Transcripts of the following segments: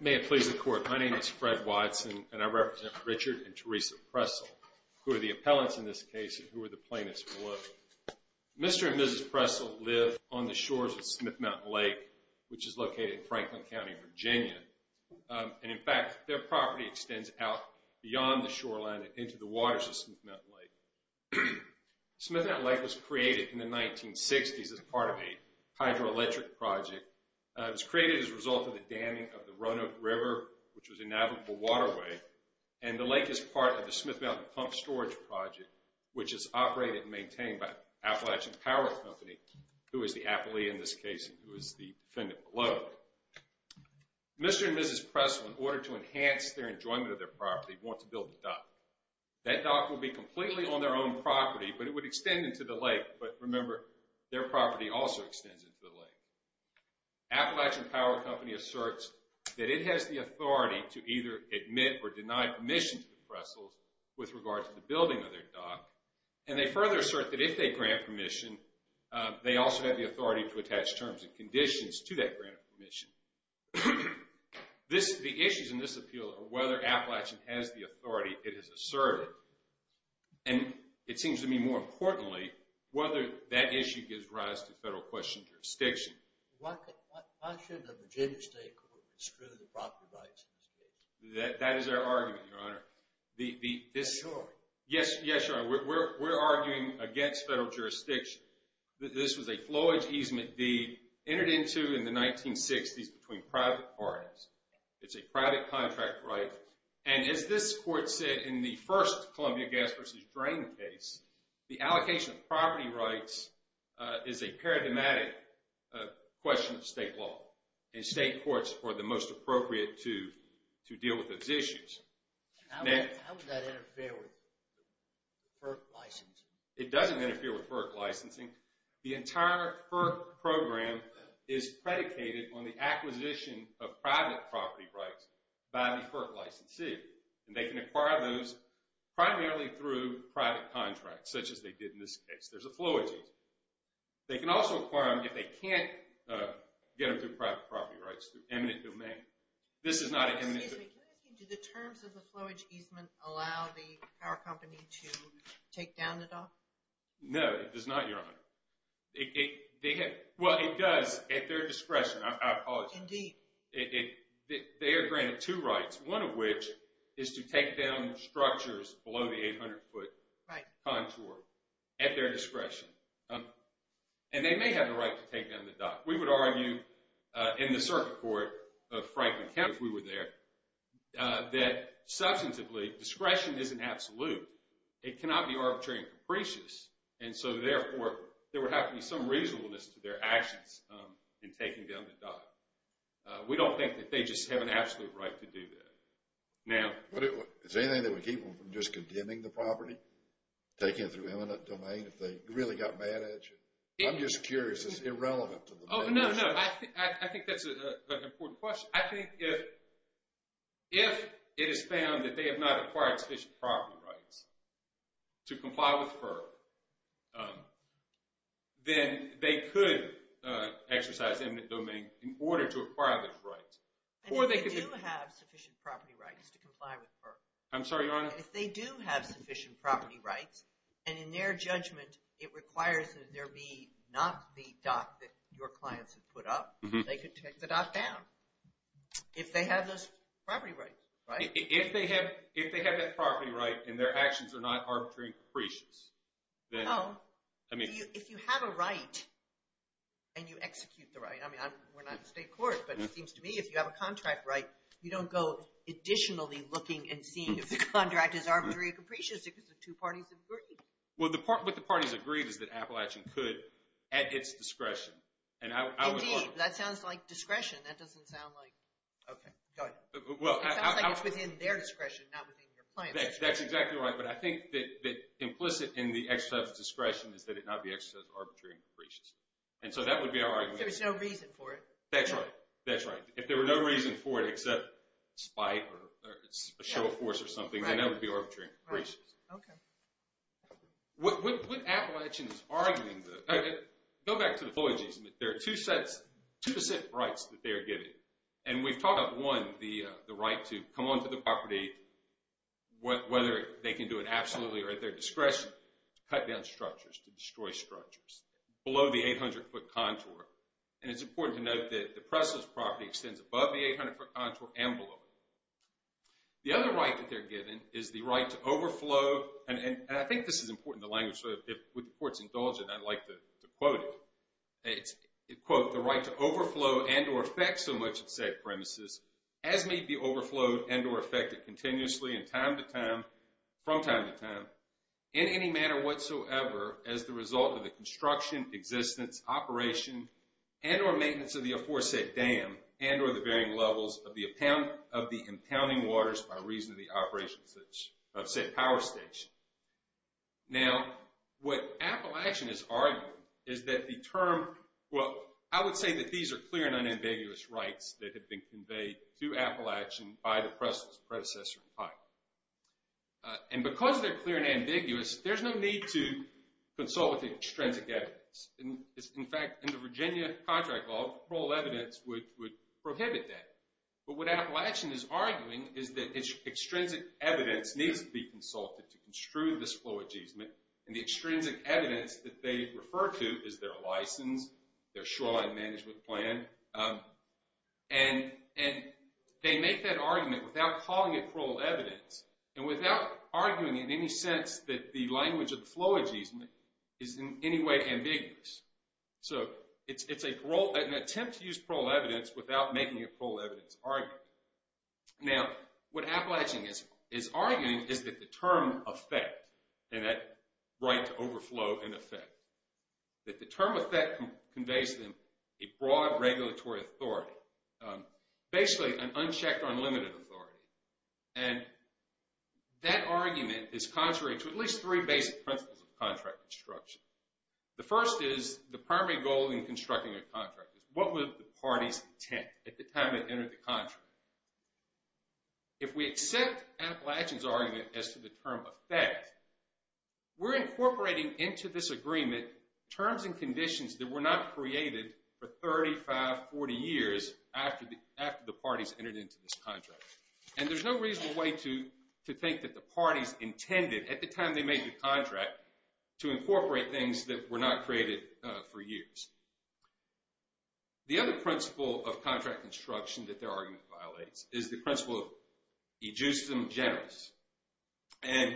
May it please the court. My name is Fred Watson and I represent Richard and Teresa Pressl, who are the appellants in this case and who are the plaintiffs below. Mr. and Mrs. Pressl live on the shores of Smith Mountain Lake, which is located in Franklin County, Virginia. And in fact, their property extends out beyond the shoreline and into the waters of Smith Mountain Lake. Smith Mountain Lake was created in the 1960s as part of a hydroelectric project. It was created as a result of the damming of the Roanoke River, which was a navigable waterway. And the lake is part of the Smith Mountain Pump Storage Project, which is operated and maintained by Appalachian Power Company, who is the appellee in this case and who is the defendant below. Mr. and Mrs. Pressl, in order to enhance their enjoyment of their property, want to build a dock. That dock will be completely on their own property, but it would extend into the lake. But remember, their property also extends into the lake. Appalachian Power Company asserts that it has the authority to either admit or deny permission to the Pressls with regard to the building of their dock. And they further assert that if they grant permission, they also have the authority to attach terms and conditions to that grant of permission. The issues in this appeal are whether Appalachian has the authority it has asserted. And it seems to me more importantly, whether that issue gives rise to federal question jurisdiction. Why should a Virginia state court construe the property rights of the state? That is our argument, Your Honor. Yes, Your Honor. We're arguing against federal jurisdiction. This was a flowage easement deed entered into in the 1960s between private parties. It's a private contract right. And as this court said in the first Columbia Gas versus Drain case, the allocation of property rights is a paradigmatic question of state law. And state courts are the most appropriate to deal with those issues. How would that interfere with FERC licensing? It doesn't interfere with FERC licensing. The entire FERC program is predicated on the acquisition of private property rights by the FERC licensee. And they can acquire those primarily through private contracts, such as they did in this case. There's a flowage easement. They can also acquire them if they can't get them through private property rights through eminent domain. This is not an eminent domain. Excuse me, can I ask you, do the terms of the flowage easement allow the power company to take down the dock? No, it does not, Your Honor. It does at their discretion. I apologize. Indeed. They are granted two rights, one of which is to take down structures below the 800-foot contour at their discretion. And they may have the right to take down the dock. We would argue in the circuit court of Franklin County, if we were there, that substantively discretion isn't absolute. It cannot be arbitrary and capricious. And so, therefore, there would have to be some reasonableness to their actions in taking down the dock. We don't think that they just have an absolute right to do that. Now... Is there anything that would keep them from just condemning the property taken through eminent domain if they really got mad at you? I'm just curious. It's irrelevant to the matter. Oh, no, no. I think that's an important question. I think if it is found that they have not acquired sufficient property rights to comply with FER, then they could exercise eminent domain in order to acquire those rights. And if they do have sufficient property rights to comply with FER? I'm sorry, Your Honor? If they do have sufficient property rights, and in their judgment, it requires that there be not the dock that your clients have put up, they could take the dock down if they have those property rights, right? If they have that property right and their actions are not arbitrary and capricious, then... No. If you have a right and you execute the right, I mean, we're not in state court, but it seems to me if you have a contract right, you don't go additionally looking and seeing if the contract is arbitrary and capricious because the two parties agreed. Well, what the parties agreed is that Appalachian could, at its discretion. Indeed, that sounds like discretion. That doesn't sound like... Okay, go ahead. Well, I... It sounds like it's within their discretion, not within your client's discretion. That's exactly right. But I think that implicit in the exercise of discretion is that it not be exercised arbitrarily and capricious. And so that would be our argument. If there was no reason for it. That's right. That's right. If there were no reason for it except spite or a show of force or something, then that would be arbitrary and capricious. Okay. What Appalachian is arguing... Go back to the... There are two sets, two sets of rights that they are getting. And we've talked about one, the right to come onto the property whether they can do it absolutely or at their discretion to cut down structures, to destroy structures below the 800-foot contour. And it's important to note that the press's property extends above the 800-foot contour and below it. The other right that they're given is the right to overflow. And I think this is important, the language. With the court's indulgence, I'd like to quote it. It's, quote, the right to overflow and or affect so much of said premises as may be overflowed and or affected continuously and from time to time in any manner whatsoever as the result of the construction, existence, operation, and or maintenance of the aforesaid dam and or the levels of the impounding waters by reason of the operations of said power station. Now, what Appalachian is arguing is that the term... Well, I would say that these are clear and unambiguous rights that have been conveyed to Appalachian by the press's predecessor in time. And because they're clear and ambiguous, there's no need to consult with the extrinsic evidence. In fact, in the Virginia contract law, parole evidence would prohibit that. But what Appalachian is arguing is that its extrinsic evidence needs to be consulted to construe this parole adjustment. And the extrinsic evidence that they refer to is their license, their shoreline management plan. And they make that argument without calling it parole evidence and without arguing in any sense that the language of the flow adjustment is in any way ambiguous. So, it's an attempt to use parole evidence without making a parole evidence argument. Now, what Appalachian is arguing is that the term effect and that right to overflow in effect, that the term effect conveys them a broad regulatory authority, basically an unchecked unlimited authority. And that argument is contrary to at least three basic principles of contract construction. The first is the primary goal in constructing a contract is what would the party's intent at the time it entered the contract. If we accept Appalachian's argument as to the term effect, we're incorporating into this agreement terms and conditions that were not in the contract. And there's no reasonable way to think that the party's intended at the time they made the contract to incorporate things that were not created for years. The other principle of contract construction that their argument violates is the principle of ejusdem generis. And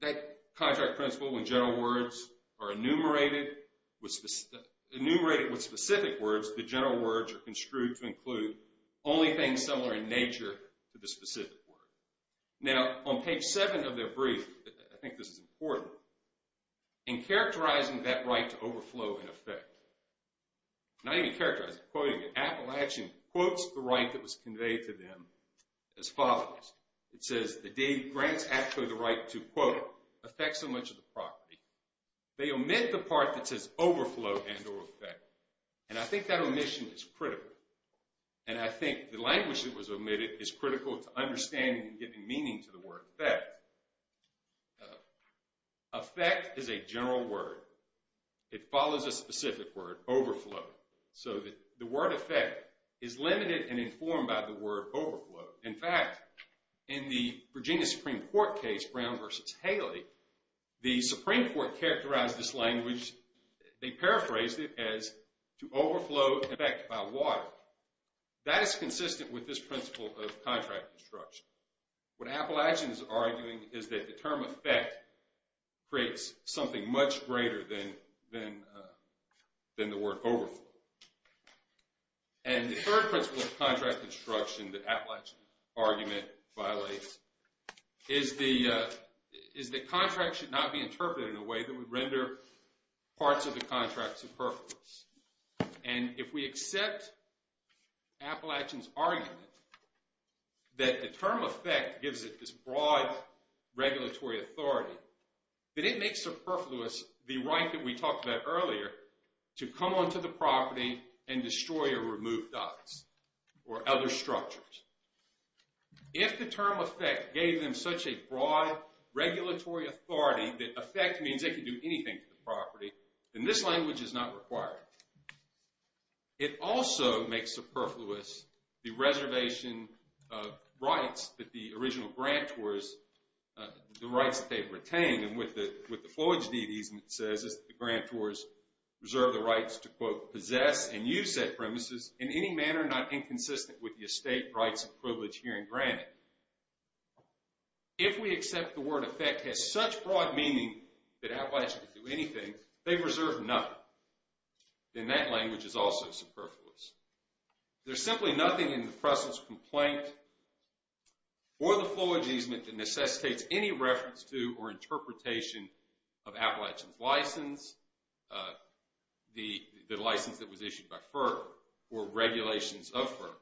that contract principle, when general words are enumerated with specific words, the general words are construed to include only things similar in nature to the specific word. Now, on page seven of their brief, I think this is important, in characterizing that right to overflow in effect, not even characterizing, quoting it, Appalachian quotes the right that was conveyed to them as follows. It says the deed grants actually the right to, quote, affect so much of the property. They omit the part that says overflow and or effect. And I think that omission is critical. And I think the language that was omitted is critical to understanding and giving meaning to the word effect. Effect is a general word. It follows a specific word, overflow. So the word effect is limited and informed by the word overflow. In fact, in the Virginia Supreme Court case, Brown versus Haley, the Supreme Court characterized this language, they paraphrased it as to overflow effect by water. That is consistent with this principle of contract construction. What Appalachian is arguing is that the term effect creates something much greater than the word overflow. And the third principle of contract construction that Appalachian argument violates is that contract should not be interpreted in a way that would render parts of the contract superfluous. And if we accept Appalachian's argument that the term effect gives it this broad regulatory authority, that it makes superfluous the right that we talked about earlier to come onto the property and destroy or remove docks or other structures. If the term effect gave them such a broad regulatory authority that effect means they can do anything to the property, then this language is not required. It also makes superfluous the reservation of rights that the original grantors, the rights that they've retained, and what the Floyd's deed easement says is that the grantors reserve the rights to, quote, possess and use said premises in any manner not inconsistent with the estate rights of privilege here in Granite. And if we accept the word effect has such broad meaning that Appalachian could do anything, they reserve nothing. Then that language is also superfluous. There's simply nothing in the Fressel's complaint or the Floyd's easement that necessitates any reference to or interpretation of Appalachian's license, the license that was issued by FERC, or regulations of FERC.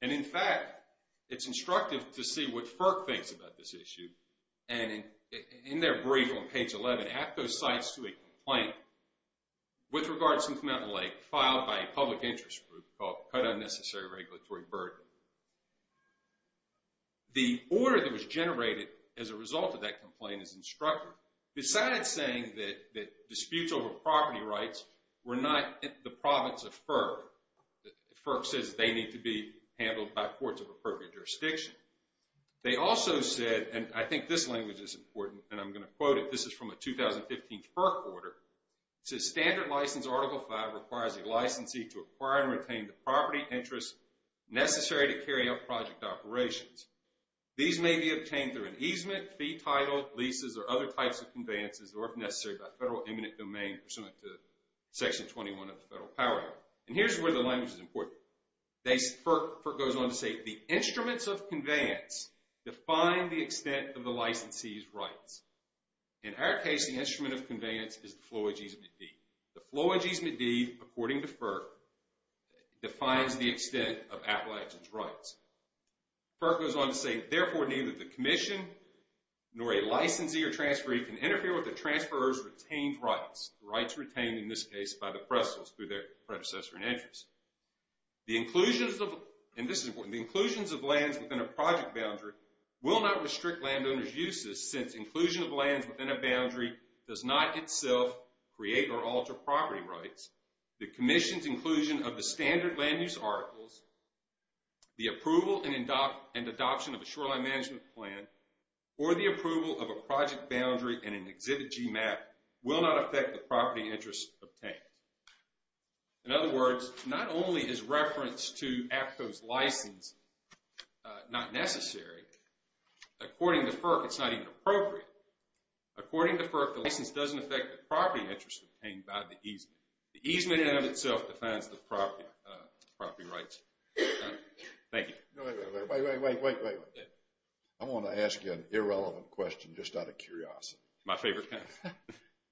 And in fact, it's instructive to see what FERC thinks about this issue. And in their brief on page 11, half those sites do a complaint with regards to Mount and Lake filed by a public interest group called Cut Unnecessary Regulatory Burden. The order that was generated as a result of that complaint is instructive. Besides saying that disputes over property rights were not the province of FERC, FERC says they need to be handled by courts of appropriate jurisdiction. They also said, and I think this language is important and I'm going to quote it. This is from a 2015 FERC order. It says standard license article 5 requires a licensee to acquire and retain the property interests necessary to carry out project operations. These may be obtained through an easement, fee title, leases, or other types of conveyances or if necessary by federal eminent domain pursuant to section 21 of the federal power act. And here's where the language is important. FERC goes on to say the instruments of conveyance define the extent of the licensee's rights. In our case, the instrument of conveyance is the Phloeges Medivh. The Phloeges Medivh, according to FERC, defines the extent of Appalachian's rights. FERC goes on to say therefore neither the commission nor a licensee or transferee can interfere with the transferor's retained rights. Rights retained in this case by the Prestles through their predecessor and entrants. The inclusions of, and this is important, the inclusions of lands within a project boundary will not restrict landowners' uses since inclusion of lands within a boundary does not itself create or alter property rights. The commission's inclusion of the standard land use articles, the approval and adoption of a shoreline management plan, or the approval of a project map will not affect the property interest obtained. In other words, not only is reference to APTO's license not necessary, according to FERC it's not even appropriate. According to FERC, the license doesn't affect the property interest obtained by the easement. The easement in and of itself defines the property rights. Thank you. Wait, wait, wait. I want to ask you an irrelevant question just out of curiosity. My favorite kind.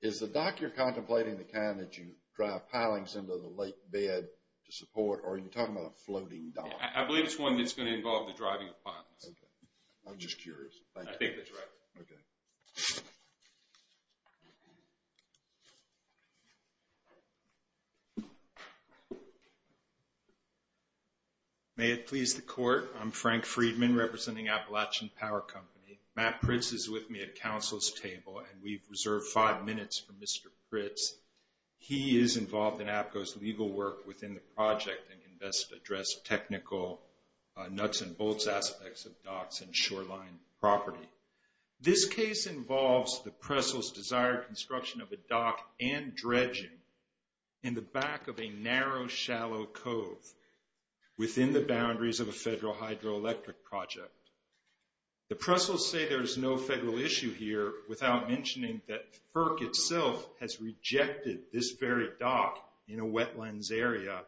Is the dock you're contemplating the kind that you drive pilings into the lake bed to support or are you talking about a floating dock? I believe it's one that's going to involve the driving of pilings. Okay. I'm just curious. I think that's right. Okay. May it please the court, I'm Frank Friedman representing Appalachian Power Company. Matt Pritz is with me at counsel's table and we've reserved five minutes for Mr. Pritz. He is involved in APCO's legal work within the project and can best address technical nuts and bolts aspects of docks and shoreline property. This case involves the Prestle's desired construction of a dock and dredging in the back of a narrow shallow cove within the boundaries of a federal hydroelectric project. The Prestle's say there is no federal issue here without mentioning that FERC itself has rejected this very dock in a wetlands area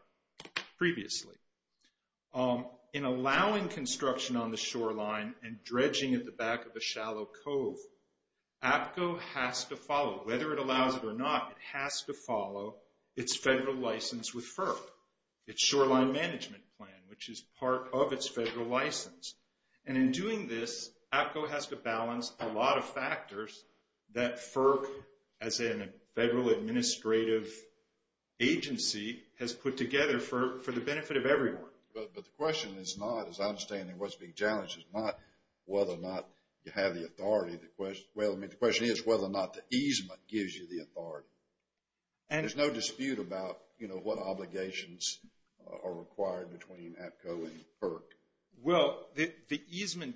previously. In allowing construction on the shoreline and dredging at the back of a shallow cove, APCO has to follow, whether it allows it or not, it has to follow its federal license with part of its federal license. And in doing this, APCO has to balance a lot of factors that FERC as a federal administrative agency has put together for the benefit of everyone. But the question is not, as I understand it, what's being challenged is not whether or not you have the authority. The question is whether or not the easement gives you the authority. And there's no dispute about, you know, what obligations are required between APCO and FERC. Well, the easement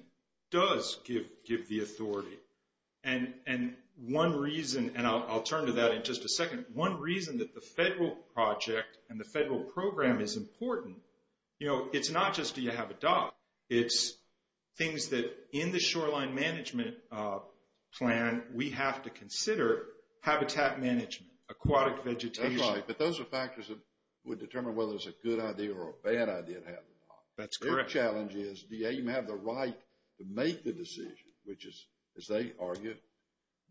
does give the authority. And one reason, and I'll turn to that in just a second, one reason that the federal project and the federal program is important, you know, it's not just do you have a dock? It's things that in the shoreline management plan, we have to consider habitat management, aquatic vegetation. That's right. But those are factors that would determine whether it's a good idea or a bad idea to have a dock. That's correct. The challenge is, do you even have the right to make the decision, which is, as they argue,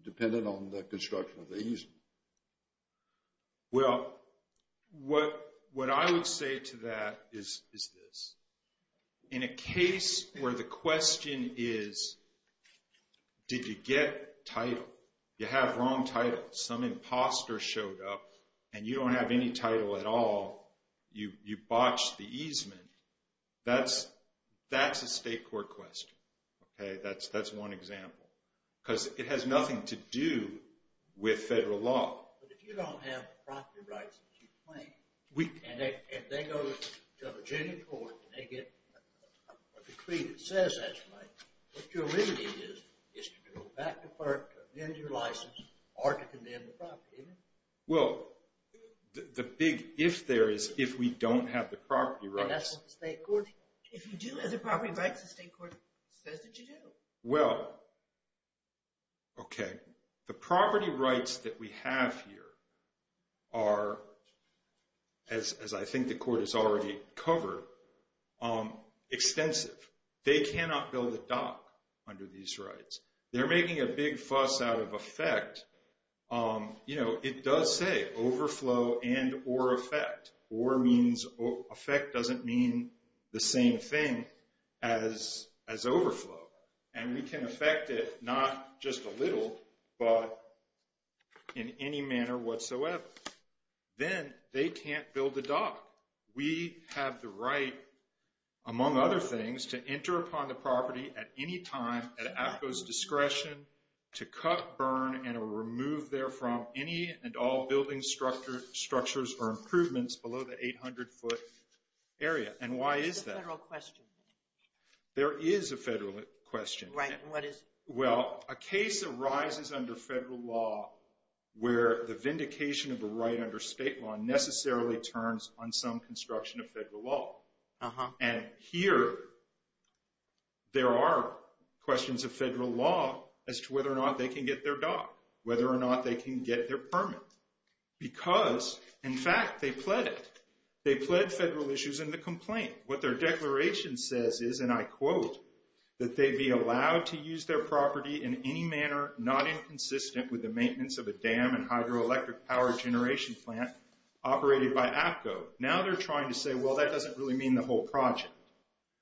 dependent on the construction of the easement? Well, what I would say to that is this. In a case where the question is, did you get title? You have wrong title. Some imposter showed up and you don't have any title at all. You botched the easement. That's a state court question. Okay. That's one example. Because it has nothing to do with federal law. But if you don't have property rights and they go to Virginia court and they get a decree that says that you might, what your limited is, is to go back to FERC to amend your license or to condemn the property. Well, the big if there is, if we don't have the property rights. And that's what the state court, if you do have the property rights, the state court says that Well, okay. The property rights that we have here are, as I think the court has already covered, extensive. They cannot build a dock under these rights. They're making a big fuss out of effect. It does say overflow and or effect. Or means effect doesn't mean the same thing as overflow. And we can affect it, not just a little, but in any manner whatsoever. Then they can't build a dock. We have the right, among other things, to enter upon the property at any time at ACCO's discretion to cut, burn, and remove there from any and all building structures or improvements below the 800-foot area. And why is that? There's a federal question. There is a federal question. Right. And what is it? Well, a case arises under federal law where the vindication of a right under state law necessarily turns on some construction of federal law. And here there are questions of federal law as to whether or not they can get their dock, whether or not they can get their permit. Because, in fact, they pled it. They pled federal issues in the complaint. What their declaration says is, and I quote, that they'd be allowed to use their property in any manner not inconsistent with the maintenance of a dam and hydroelectric power generation plant operated by APCO. Now they're trying to say, well, that doesn't really mean the whole project.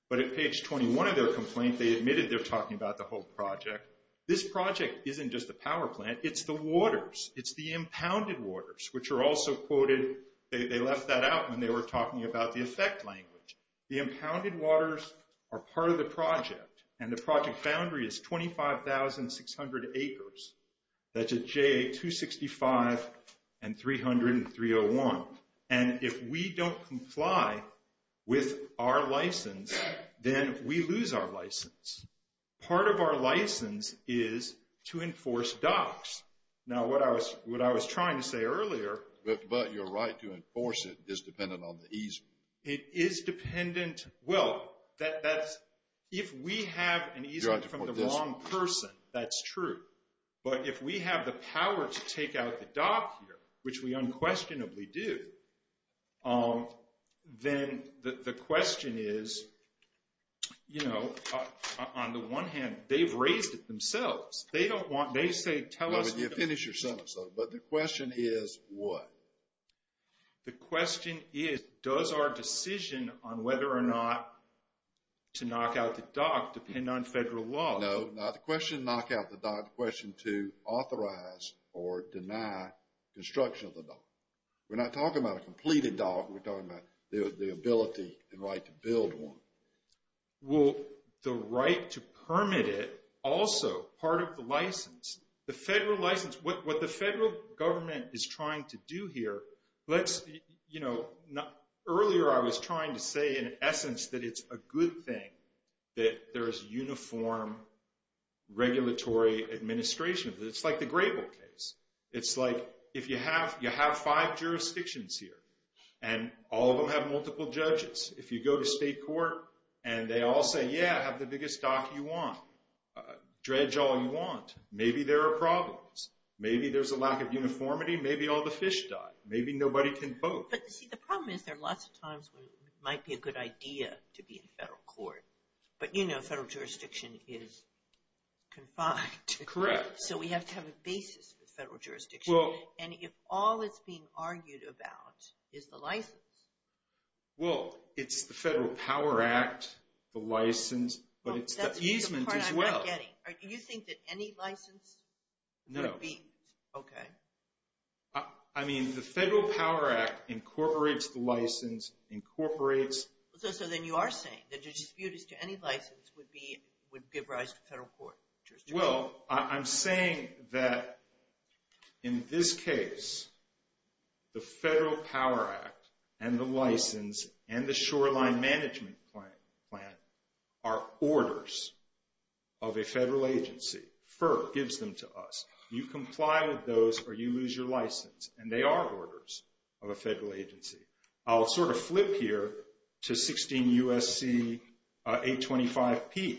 But at page 21 of their complaint, they admitted they're talking about the whole project. This project isn't just the power plant. It's the waters. It's the impounded waters, which are also quoted. They left that out when they were talking about the effect language. The impounded waters are part of the project. And the project boundary is 25,600 acres. That's a J265 and 300 and 301. And if we don't comply with our license, then we lose our license. Part of our license is to enforce docks. Now what I was trying to say earlier. But your right to enforce it is dependent on the easement. It is dependent. Well, that's, if we have an easement from the wrong person, that's true. But if we have the power to take out the dock here, which we unquestionably do, then the question is, you know, on the one hand, they've raised it themselves. They don't want, they say, tell us. No, but you finish your sentence though. But the question is what? The question is, does our decision on whether or not to knock out the dock depend on federal law? No, not the question to knock out the dock, the question to authorize or deny construction of the completed dock. We're talking about the ability and right to build one. Well, the right to permit it also, part of the license, the federal license, what the federal government is trying to do here, let's, you know, earlier I was trying to say in essence, that it's a good thing that there is uniform regulatory administration. It's like the jurisdictions here and all of them have multiple judges. If you go to state court and they all say, yeah, have the biggest dock you want, dredge all you want, maybe there are problems. Maybe there's a lack of uniformity. Maybe all the fish died. Maybe nobody can vote. But see, the problem is there are lots of times when it might be a good idea to be in federal court, but you know, federal jurisdiction is confined. Correct. So we have to have a basis for federal jurisdiction. And if all it's being argued about is the license. Well, it's the Federal Power Act, the license, but it's the easement as well. Do you think that any license would be, okay. I mean, the Federal Power Act incorporates the license, incorporates. So then you are saying that your dispute as to any license would be, would give rise to federal court jurisdiction. Well, I'm saying that in this case, the Federal Power Act and the license and the shoreline management plan are orders of a federal agency. FER gives them to us. You comply with those or you lose your license and they are orders of a federal agency. I'll sort of flip here to 16 USC 825P.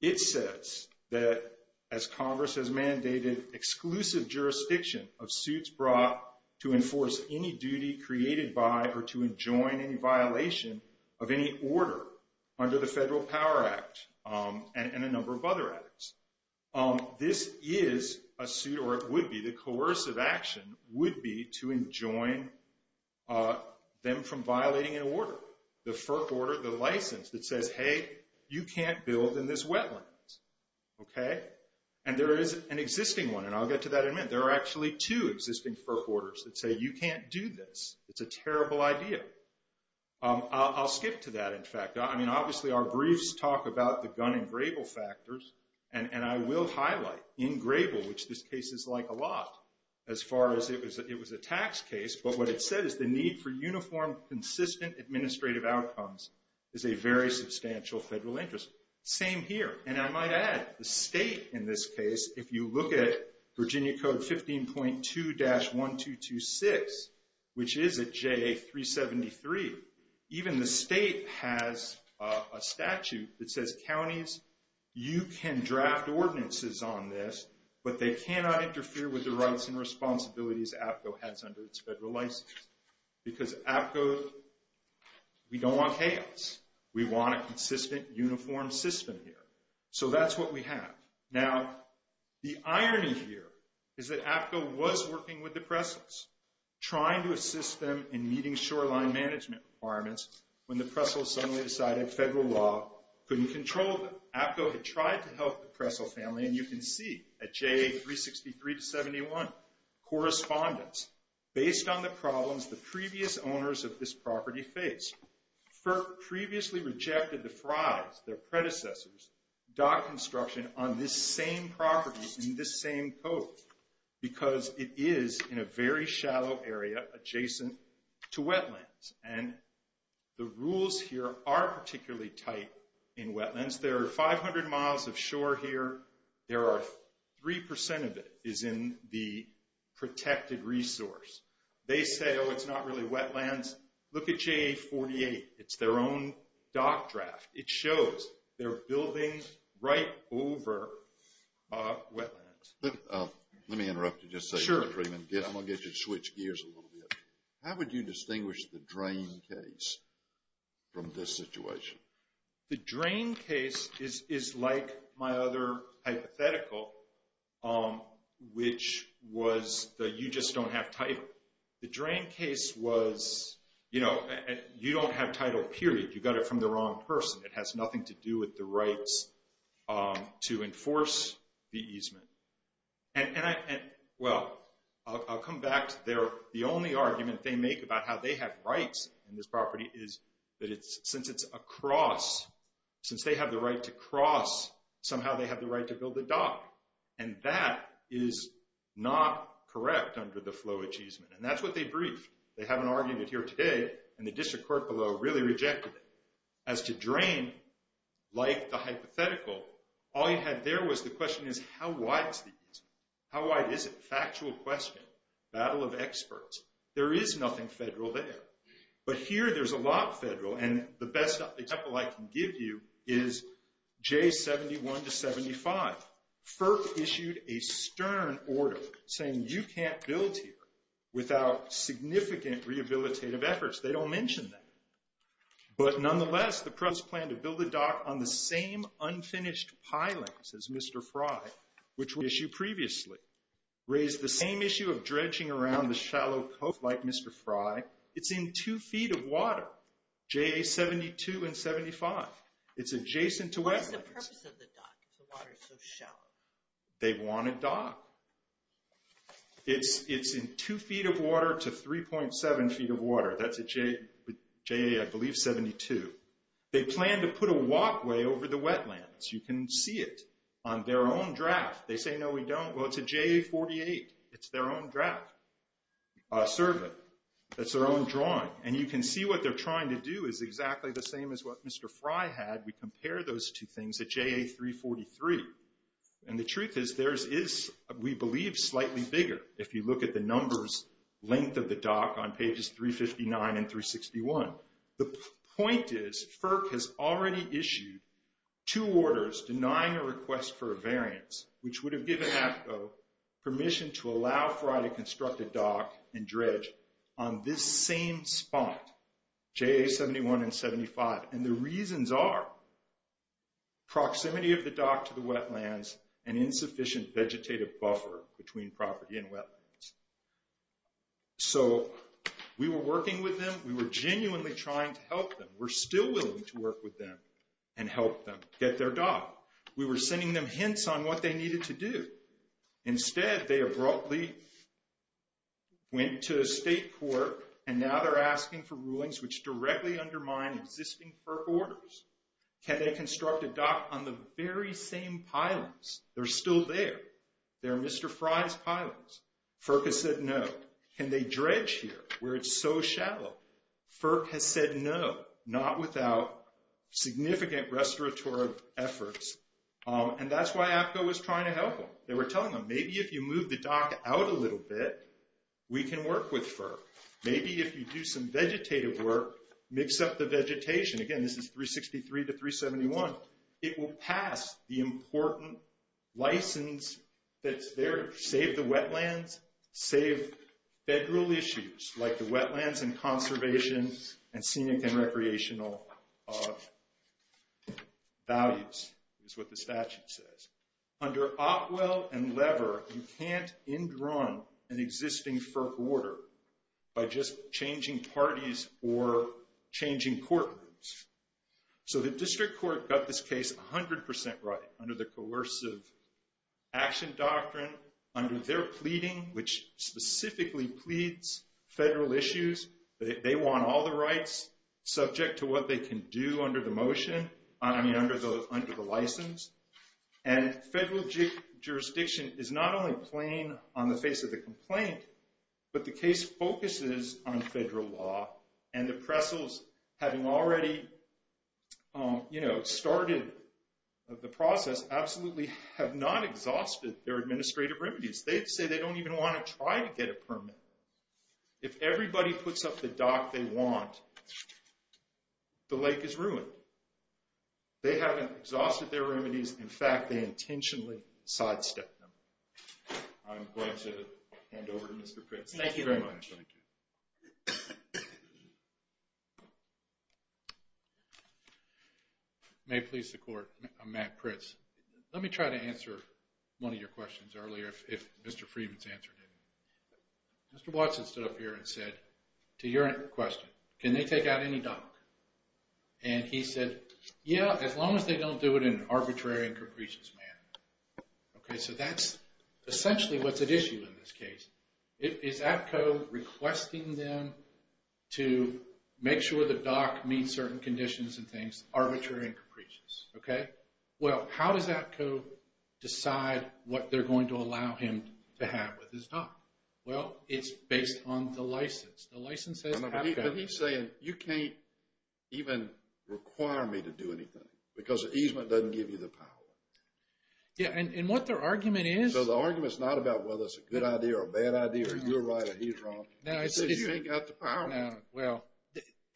It says that as Congress has mandated exclusive jurisdiction of suits brought to enforce any duty created by or to enjoin any violation of any order under the Federal Power Act and a number of other acts. This is a suit or it would be the coercive action would be to enjoin them from violating an order. The FERP order, the license that says, hey, you can't build in this wetlands. Okay. And there is an existing one and I'll get to that in a minute. There are actually two existing FERP orders that say, you can't do this. It's a terrible idea. I'll skip to that. In fact, I mean, obviously our briefs talk about the gun and grable factors and I will highlight in grable, which this case is like a lot as far as it was a tax case, but what it said is the need for uniform, consistent administrative outcomes is a very substantial federal interest. Same here. And I might add the state in this case, if you look at Virginia code 15.2-1226, which is a JA 373, even the state has a statute that says counties, you can draft ordinances on this, but they cannot interfere with the rights and responsibilities APCO has under its federal license. Because APCO, we don't want chaos. We want a consistent, uniform system here. So that's what we have. Now, the irony here is that APCO was working with the Pressles, trying to assist them in meeting shoreline management requirements, when the Pressles suddenly decided federal law couldn't control them. APCO had tried to help the Pressle family and you can see at JA 363-71, correspondence, based on the problems the previous owners of this property faced. FERC previously rejected the Fry's, their predecessors, dock construction on this same property in this same code, because it is in a very shallow area adjacent to wetlands. And the rules here are particularly tight in wetlands. There are 500 miles of shore here. There are three percent of it is in the protected resource. They say, oh, it's not really wetlands. Look at JA 48. It's their own dock draft. It shows they're building right over wetlands. Let me interrupt you just a second, Freeman. I'm going to get you to switch gears a little bit. How would you distinguish the drain case from this situation? The drain case is like my other hypothetical, which was that you just don't have title. The drain case was, you know, you don't have title, period. You got it from the wrong person. It has nothing to do with the rights to enforce the easement. And, well, I'll come back to their, the only argument they make about how they have rights in this property is that it's, since it's a cross, since they have the right to cross, somehow they have the right to build the dock. And that is not correct under the flow achievement. And that's what they briefed. They have an argument here today, and the district court below really rejected it. As to drain, like the hypothetical, all you had there was the question is how wide is the easement? How wide is it? Factual question. Battle of experts. There is nothing federal there. But here, there's a lot federal, and the best example I can give you is J71 to 75. FERC issued a stern order saying you can't build here without significant rehabilitative efforts. They don't mention that. But nonetheless, the press plan to build a dock on the same unfinished piling, says Mr. Fry, which was issued previously, raised the same issue of dredging around the shallow coast like Mr. Fry. It's in two feet of water, JA72 and 75. It's adjacent to wetlands. What's the purpose of the dock if the water's so shallow? They want a dock. It's in two feet of water to 3.7 feet of water. That's a JA, I believe, 72. They plan to put a walkway over the wetlands. You can see it on their own draft. They say, no, we don't. Well, it's a JA48. It's their own draft, a survey. That's their own drawing. And you can see what they're trying to do is exactly the same as what Mr. Fry had. We compare those two things at JA343. And the truth is theirs is, we believe, slightly bigger if you look at the numbers, length of the dock on pages 359 and 361. The point is FERC has already issued two orders denying a request for a variance, which would have given AFCO permission to allow Fry to construct a dock and dredge on this same spot, JA71 and 75. And the reasons are proximity of the dock to the wetlands and insufficient vegetative buffer between property and wetlands. So we were working with them. We were genuinely trying to help them. We're still willing to work with them and help them get their dock. We were sending them hints on what they needed to do. Instead, they abruptly went to a state court and now they're asking for rulings which directly undermine existing FERC orders. Can they construct a dock on the very same pylons? They're still there. They're Mr. Fry's pylons. FERC has said no. Can they dredge here where it's so shallow? FERC has said no, not without significant restorative efforts. And that's why AFCO was trying to help them. They were telling them, maybe if you move the dock out a little bit, we can work with FERC. Maybe if you do some vegetative work, mix up the vegetation, again, this is 363 to 371, it will pass the important license that's there to save the like the wetlands and conservation and scenic and recreational values is what the statute says. Under Opwell and Lever, you can't in-drawn an existing FERC order by just changing parties or changing courtrooms. So the district court got this case 100% right under the coercive action doctrine, under their pleading, which specifically pleads federal issues. They want all the rights subject to what they can do under the motion, I mean, under the license. And federal jurisdiction is not only playing on the face of the complaint, but the case focuses on federal law. And the Pressles, having already started the process, absolutely have not exhausted their administrative remedies. They say they don't even want to try to get a permit. If everybody puts up the dock they want, the lake is ruined. They haven't exhausted their remedies. In fact, they intentionally sidestepped them. I'm going to hand over to Mr. Prince. Thank you very much. Thank you. May it please the court, I'm Matt Prince. Let me try to answer one of your questions earlier if Mr. Freedman's answer didn't. Mr. Watson stood up here and said, to your question, can they take out any dock? And he said, yeah, as long as they don't do it in an arbitrary and capricious way. He's requesting them to make sure the dock meets certain conditions and things. Arbitrary and capricious. Okay. Well, how does APCO decide what they're going to allow him to have with his dock? Well, it's based on the license. The license says APCO. But he's saying, you can't even require me to do anything because the easement doesn't give you the power. Yeah, and what their argument is. So the argument's not about whether it's a good idea or a bad idea. You're right, he's wrong. No, I see. Well,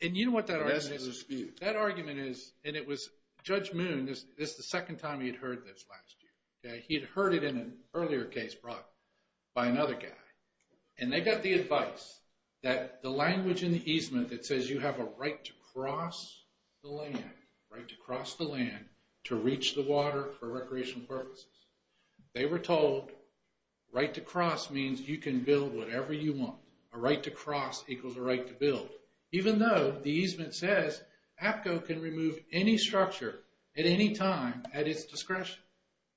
and you know what that argument is? That argument is, and it was Judge Moon, this is the second time he had heard this last year. Okay, he had heard it in an earlier case brought by another guy. And they got the advice that the language in the easement that says you have a right to cross the land, right to cross the land to reach the water for recreational purposes. They were told right to cross means you can build whatever you want. A right to cross equals a right to build. Even though the easement says APCO can remove any structure at any time at its discretion.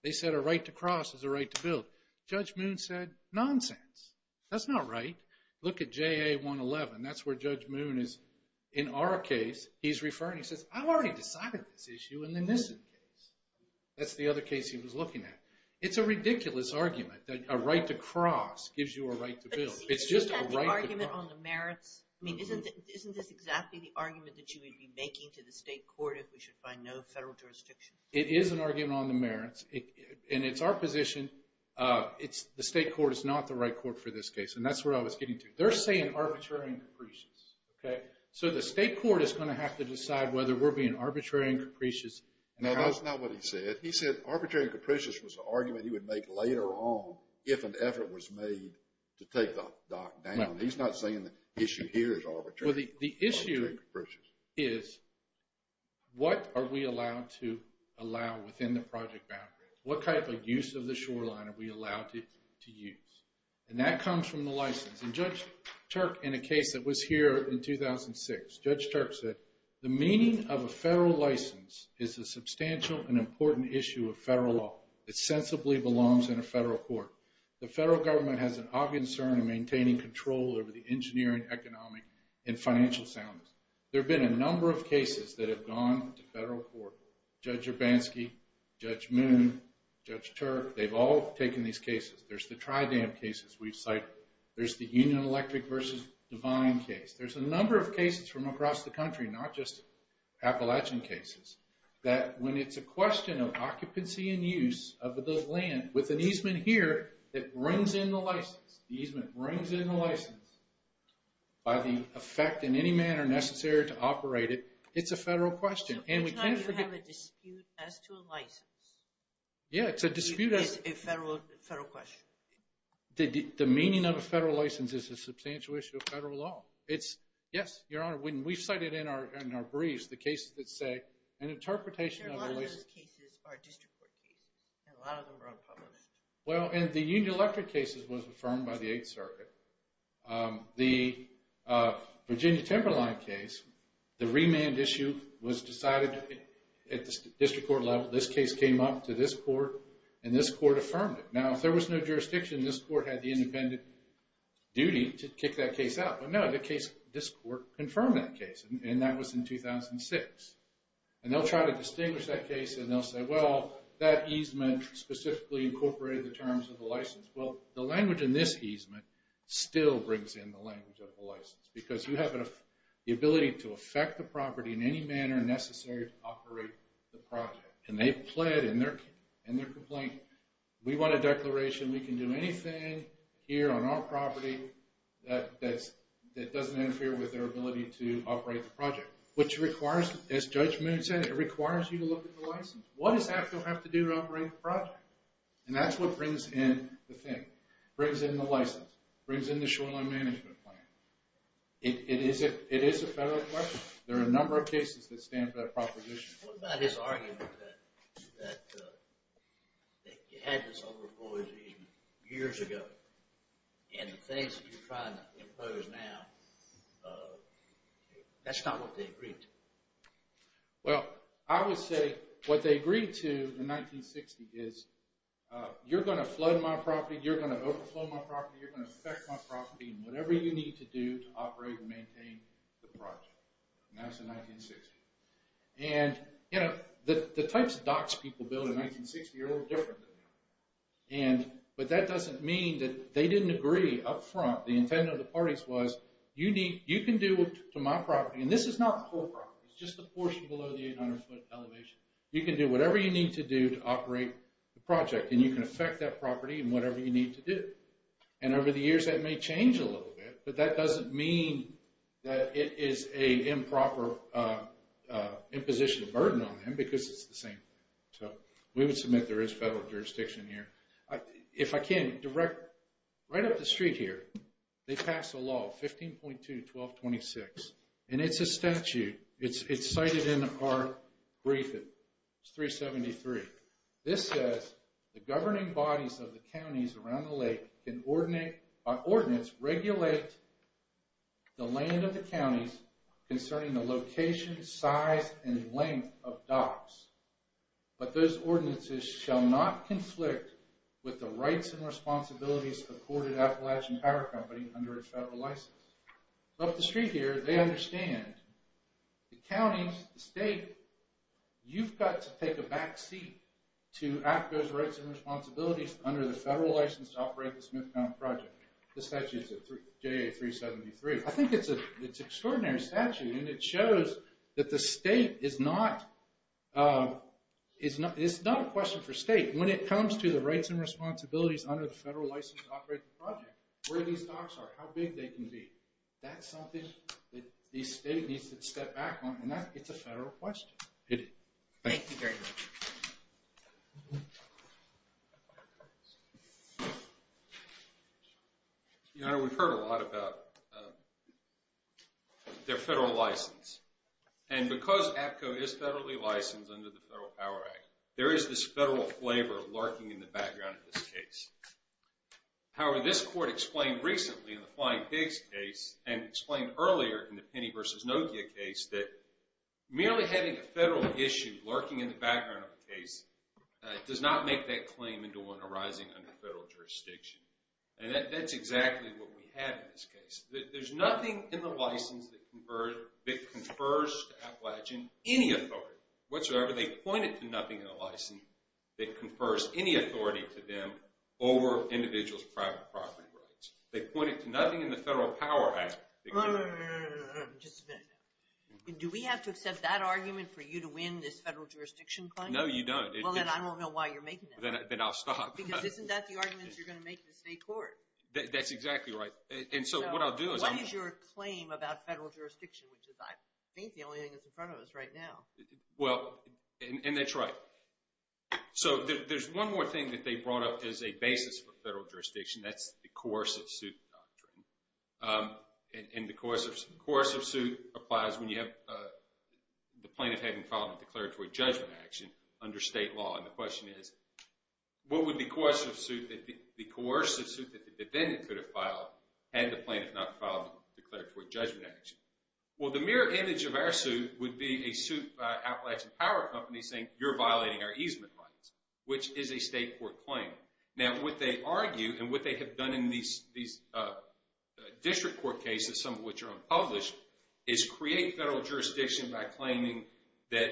They said a right to cross is a right to build. Judge Moon said nonsense. That's not right. Look at JA111. That's where Judge Moon is in our case. He's referring, he says, I've already decided this issue in the Nissen case. That's the other case he was looking at. It's a ridiculous argument that a right to cross gives you a right to build. It's just a right to cross. But isn't that the argument on the merits? I mean, isn't this exactly the argument that you would be making to the state court if we should find no federal jurisdiction? It is an argument on the merits. And it's our position, the state court is not the right court for this case. And that's where I was getting to. They're saying arbitrary and capricious. So the state court is going to have to decide whether we're being arbitrary and capricious. No, that's not what he said. He said arbitrary and capricious was an argument he would make later on if an effort was made to take the dock down. He's not saying the issue here is arbitrary and capricious. Well, the issue is what are we allowed to allow within the project boundaries? What type of use of the shoreline are we allowed to use? And that comes from the license. And Judge Turk, in a case that was here in 2006, Judge Turk said, the meaning of a federal license is a substantial and important issue of federal law. It sensibly belongs in a federal court. The federal government has an ob concern in maintaining control over the engineering, economic, and financial soundness. There have been a number of cases that have gone to federal court. Judge Urbanski, Judge Moon, Judge Turk, they've all taken these cases. There's the tri-dam cases we've cited. There's the Union Electric versus Devine case. There's a number of cases from across the country, not just Appalachian cases, that when it's a question of occupancy and use of the land with an easement here that brings in the license, the easement brings in the license, by the effect in any manner necessary to operate it, it's a federal question. So it's not you have a dispute as to a license. Yeah, it's a dispute as a federal question. The meaning of a federal license is a substantial issue of federal law. It's, yes, Your Honor, when we've cited in our briefs the cases that say an interpretation of a license... A lot of those cases are district court cases, and a lot of them are unpublished. Well, and the Union Electric cases was affirmed by the district court level. This case came up to this court, and this court affirmed it. Now, if there was no jurisdiction, this court had the independent duty to kick that case out. But no, this court confirmed that case, and that was in 2006. And they'll try to distinguish that case, and they'll say, well, that easement specifically incorporated the terms of the license. Well, the language in this easement still brings in the language of the license, because you have the ability to affect the property in any manner necessary to operate the project. And they've pled in their complaint. We want a declaration. We can do anything here on our property that doesn't interfere with their ability to operate the project, which requires, as Judge Moon said, it requires you to look at the license. What does AFCO have to do to operate the project? And that's what brings in the thing, it is a federal question. There are a number of cases that stand for that proposition. What about his argument that you had this overboard easement years ago, and the things that you're trying to impose now, that's not what they agreed to? Well, I would say what they agreed to in 1960 is, you're going to flood my property, you're going to flood my property, you're going to affect my property, and whatever you need to do to operate and maintain the project. And that's in 1960. And, you know, the types of docks people build in 1960 are a little different than now. But that doesn't mean that they didn't agree up front, the intent of the parties was, you can do to my property, and this is not the whole property, it's just the portion below the 800 foot elevation, you can do whatever you need to do to operate the project, and you can affect that property and whatever you need to do. And over the years, that may change a little bit. But that doesn't mean that it is a improper imposition of burden on him, because it's the same. So we would submit there is federal jurisdiction here. If I can direct right up the street here, they pass a law 15.2 1226. And it's a statute, it's cited in our brief, it's 373. This says, the governing bodies of the counties around the lake can ordinate, by ordinance, regulate the land of the counties concerning the location, size, and length of docks. But those ordinances shall not conflict with the rights and responsibilities accorded Appalachian Power Company under its federal license. Up the street here, they understand the counties, the state, you've got to take a back seat to act those rights and responsibilities under the federal license to operate the Smith County project. The statute is JA 373. I think it's an extraordinary statute, and it shows that the state is not, it's not a question for state. When it comes to the rights and responsibilities under the federal license to operate the project, where these docks are, how big they can be, that's something that the state needs to step back on, and that it's a federal question. It is. Thank you very much. Your Honor, we've heard a lot about their federal license. And because APCO is federally licensed under the Federal Power Act, there is this federal flavor lurking in the background of this case. However, this court explained recently in the Flying Pigs case, and explained earlier in the case, merely having a federal issue lurking in the background of the case does not make that claim into one arising under federal jurisdiction. And that's exactly what we have in this case. There's nothing in the license that confers to Appalachian any authority whatsoever. They point it to nothing in the license that confers any authority to them over individuals' private property rights. They point it to nothing in the Federal Power Act. No, no, no, no, no, no, no, no. Just a minute. Do we have to accept that argument for you to win this federal jurisdiction claim? No, you don't. Well, then I won't know why you're making it. Then I'll stop. Because isn't that the argument you're going to make to the state court? That's exactly right. And so what I'll do is- What is your claim about federal jurisdiction, which is, I think, the only thing that's in front of us right now. Well, and that's right. So there's one more thing that they brought up as a basis for federal jurisdiction. That's the coercive suit doctrine. And the coercive suit applies when you have the plaintiff having filed a declaratory judgment action under state law. And the question is, what would the coercive suit that the defendant could have filed had the plaintiff not filed a declaratory judgment action? Well, the mirror image of our suit would be a suit by Appalachian Power Company saying, you're violating our easement rights, which is a state court claim. Now, what they argue and what they have done in these district court cases, some of which are unpublished, is create federal jurisdiction by claiming that,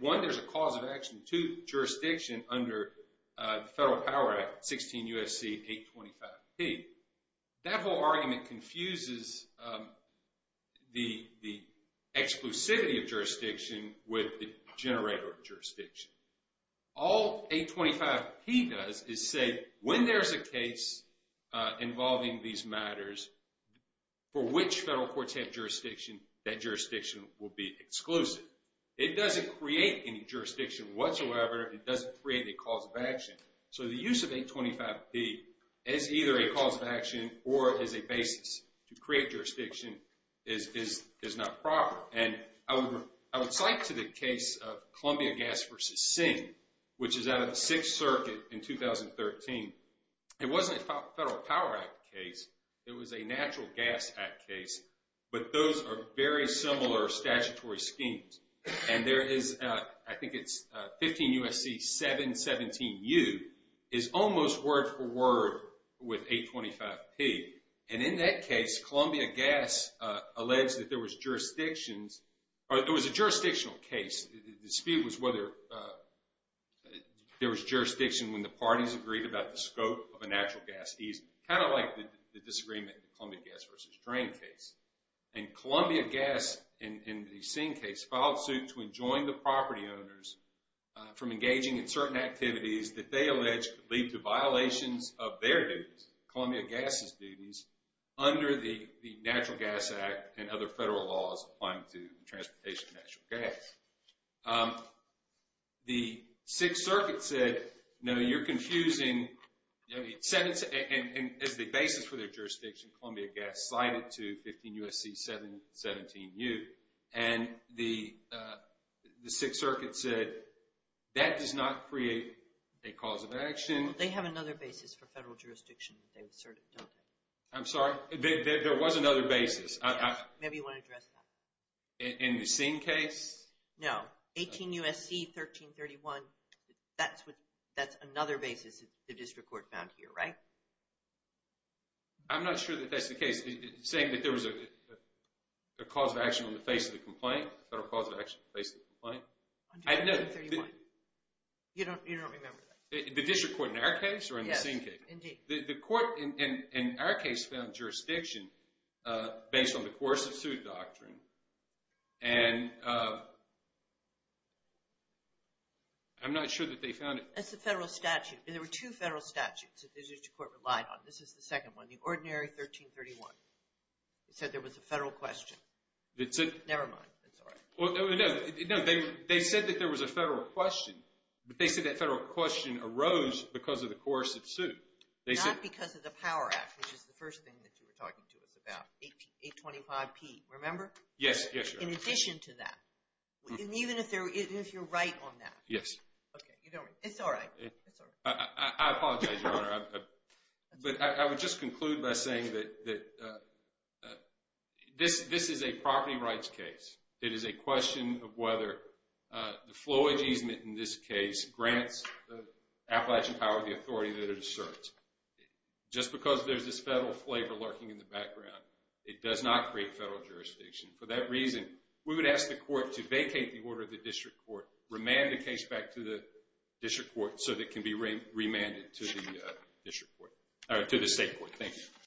one, there's a cause of action, two, jurisdiction under the Federal Power Act, 16 U.S.C. 825P. That whole argument confuses the exclusivity of jurisdiction with the generator of jurisdiction. All 825P does is say, when there's a case involving these matters, for which federal courts have jurisdiction, that jurisdiction will be exclusive. It doesn't create any jurisdiction whatsoever. It doesn't create a cause of action. So the use of 825P is either a cause of action or as a basis to jurisdiction is not proper. And I would cite to the case of Columbia Gas v. Singh, which is out of the Sixth Circuit in 2013. It wasn't a Federal Power Act case. It was a Natural Gas Act case. But those are very similar statutory schemes. And there is, I think it's 15 U.S.C. 717U, is almost word for word with 825P. And in that case, Columbia Gas alleged that there was jurisdictions, or it was a jurisdictional case. The dispute was whether there was jurisdiction when the parties agreed about the scope of a natural gas easement. Kind of like the disagreement in the Columbia Gas v. Strain case. And Columbia Gas, in the Singh case, filed suit to enjoin the certain activities that they alleged could lead to violations of their duties, Columbia Gas's duties, under the Natural Gas Act and other federal laws applying to transportation and natural gas. The Sixth Circuit said, no, you're confusing. And as the basis for their jurisdiction, Columbia Gas cited to 15 U.S.C. 717U. And the Sixth Circuit said, that does not create a cause of action. They have another basis for federal jurisdiction. I'm sorry? There was another basis. Maybe you want to address that. In the Singh case? No. 18 U.S.C. 1331. That's another basis the district court found here, right? I'm not sure that that's the case. Saying that there was a cause of action on the face of the complaint? Federal cause of action on the face of the complaint? 131. You don't remember that? The district court in our case or in the Singh case? Yes, indeed. The court in our case found jurisdiction based on the coercive suit doctrine. And I'm not sure that they found it. That's the federal statute. And there were two statutes that the district court relied on. This is the second one. The ordinary 1331. It said there was a federal question. Never mind. That's all right. Well, no. They said that there was a federal question. But they said that federal question arose because of the coercive suit. Not because of the Power Act, which is the first thing that you were talking to us about. 825P. Remember? Yes. In addition to that. And even if you're right on that. Yes. Okay. It's all right. I apologize, Your Honor. But I would just conclude by saying that this is a property rights case. It is a question of whether the flowage easement in this case grants the Appalachian Power the authority that it asserts. Just because there's this federal flavor lurking in the background, it does not create federal jurisdiction. For that reason, we would ask the court to vacate the order of the district court, remand the case back to the district court so that it can be remanded to the state court. Thank you.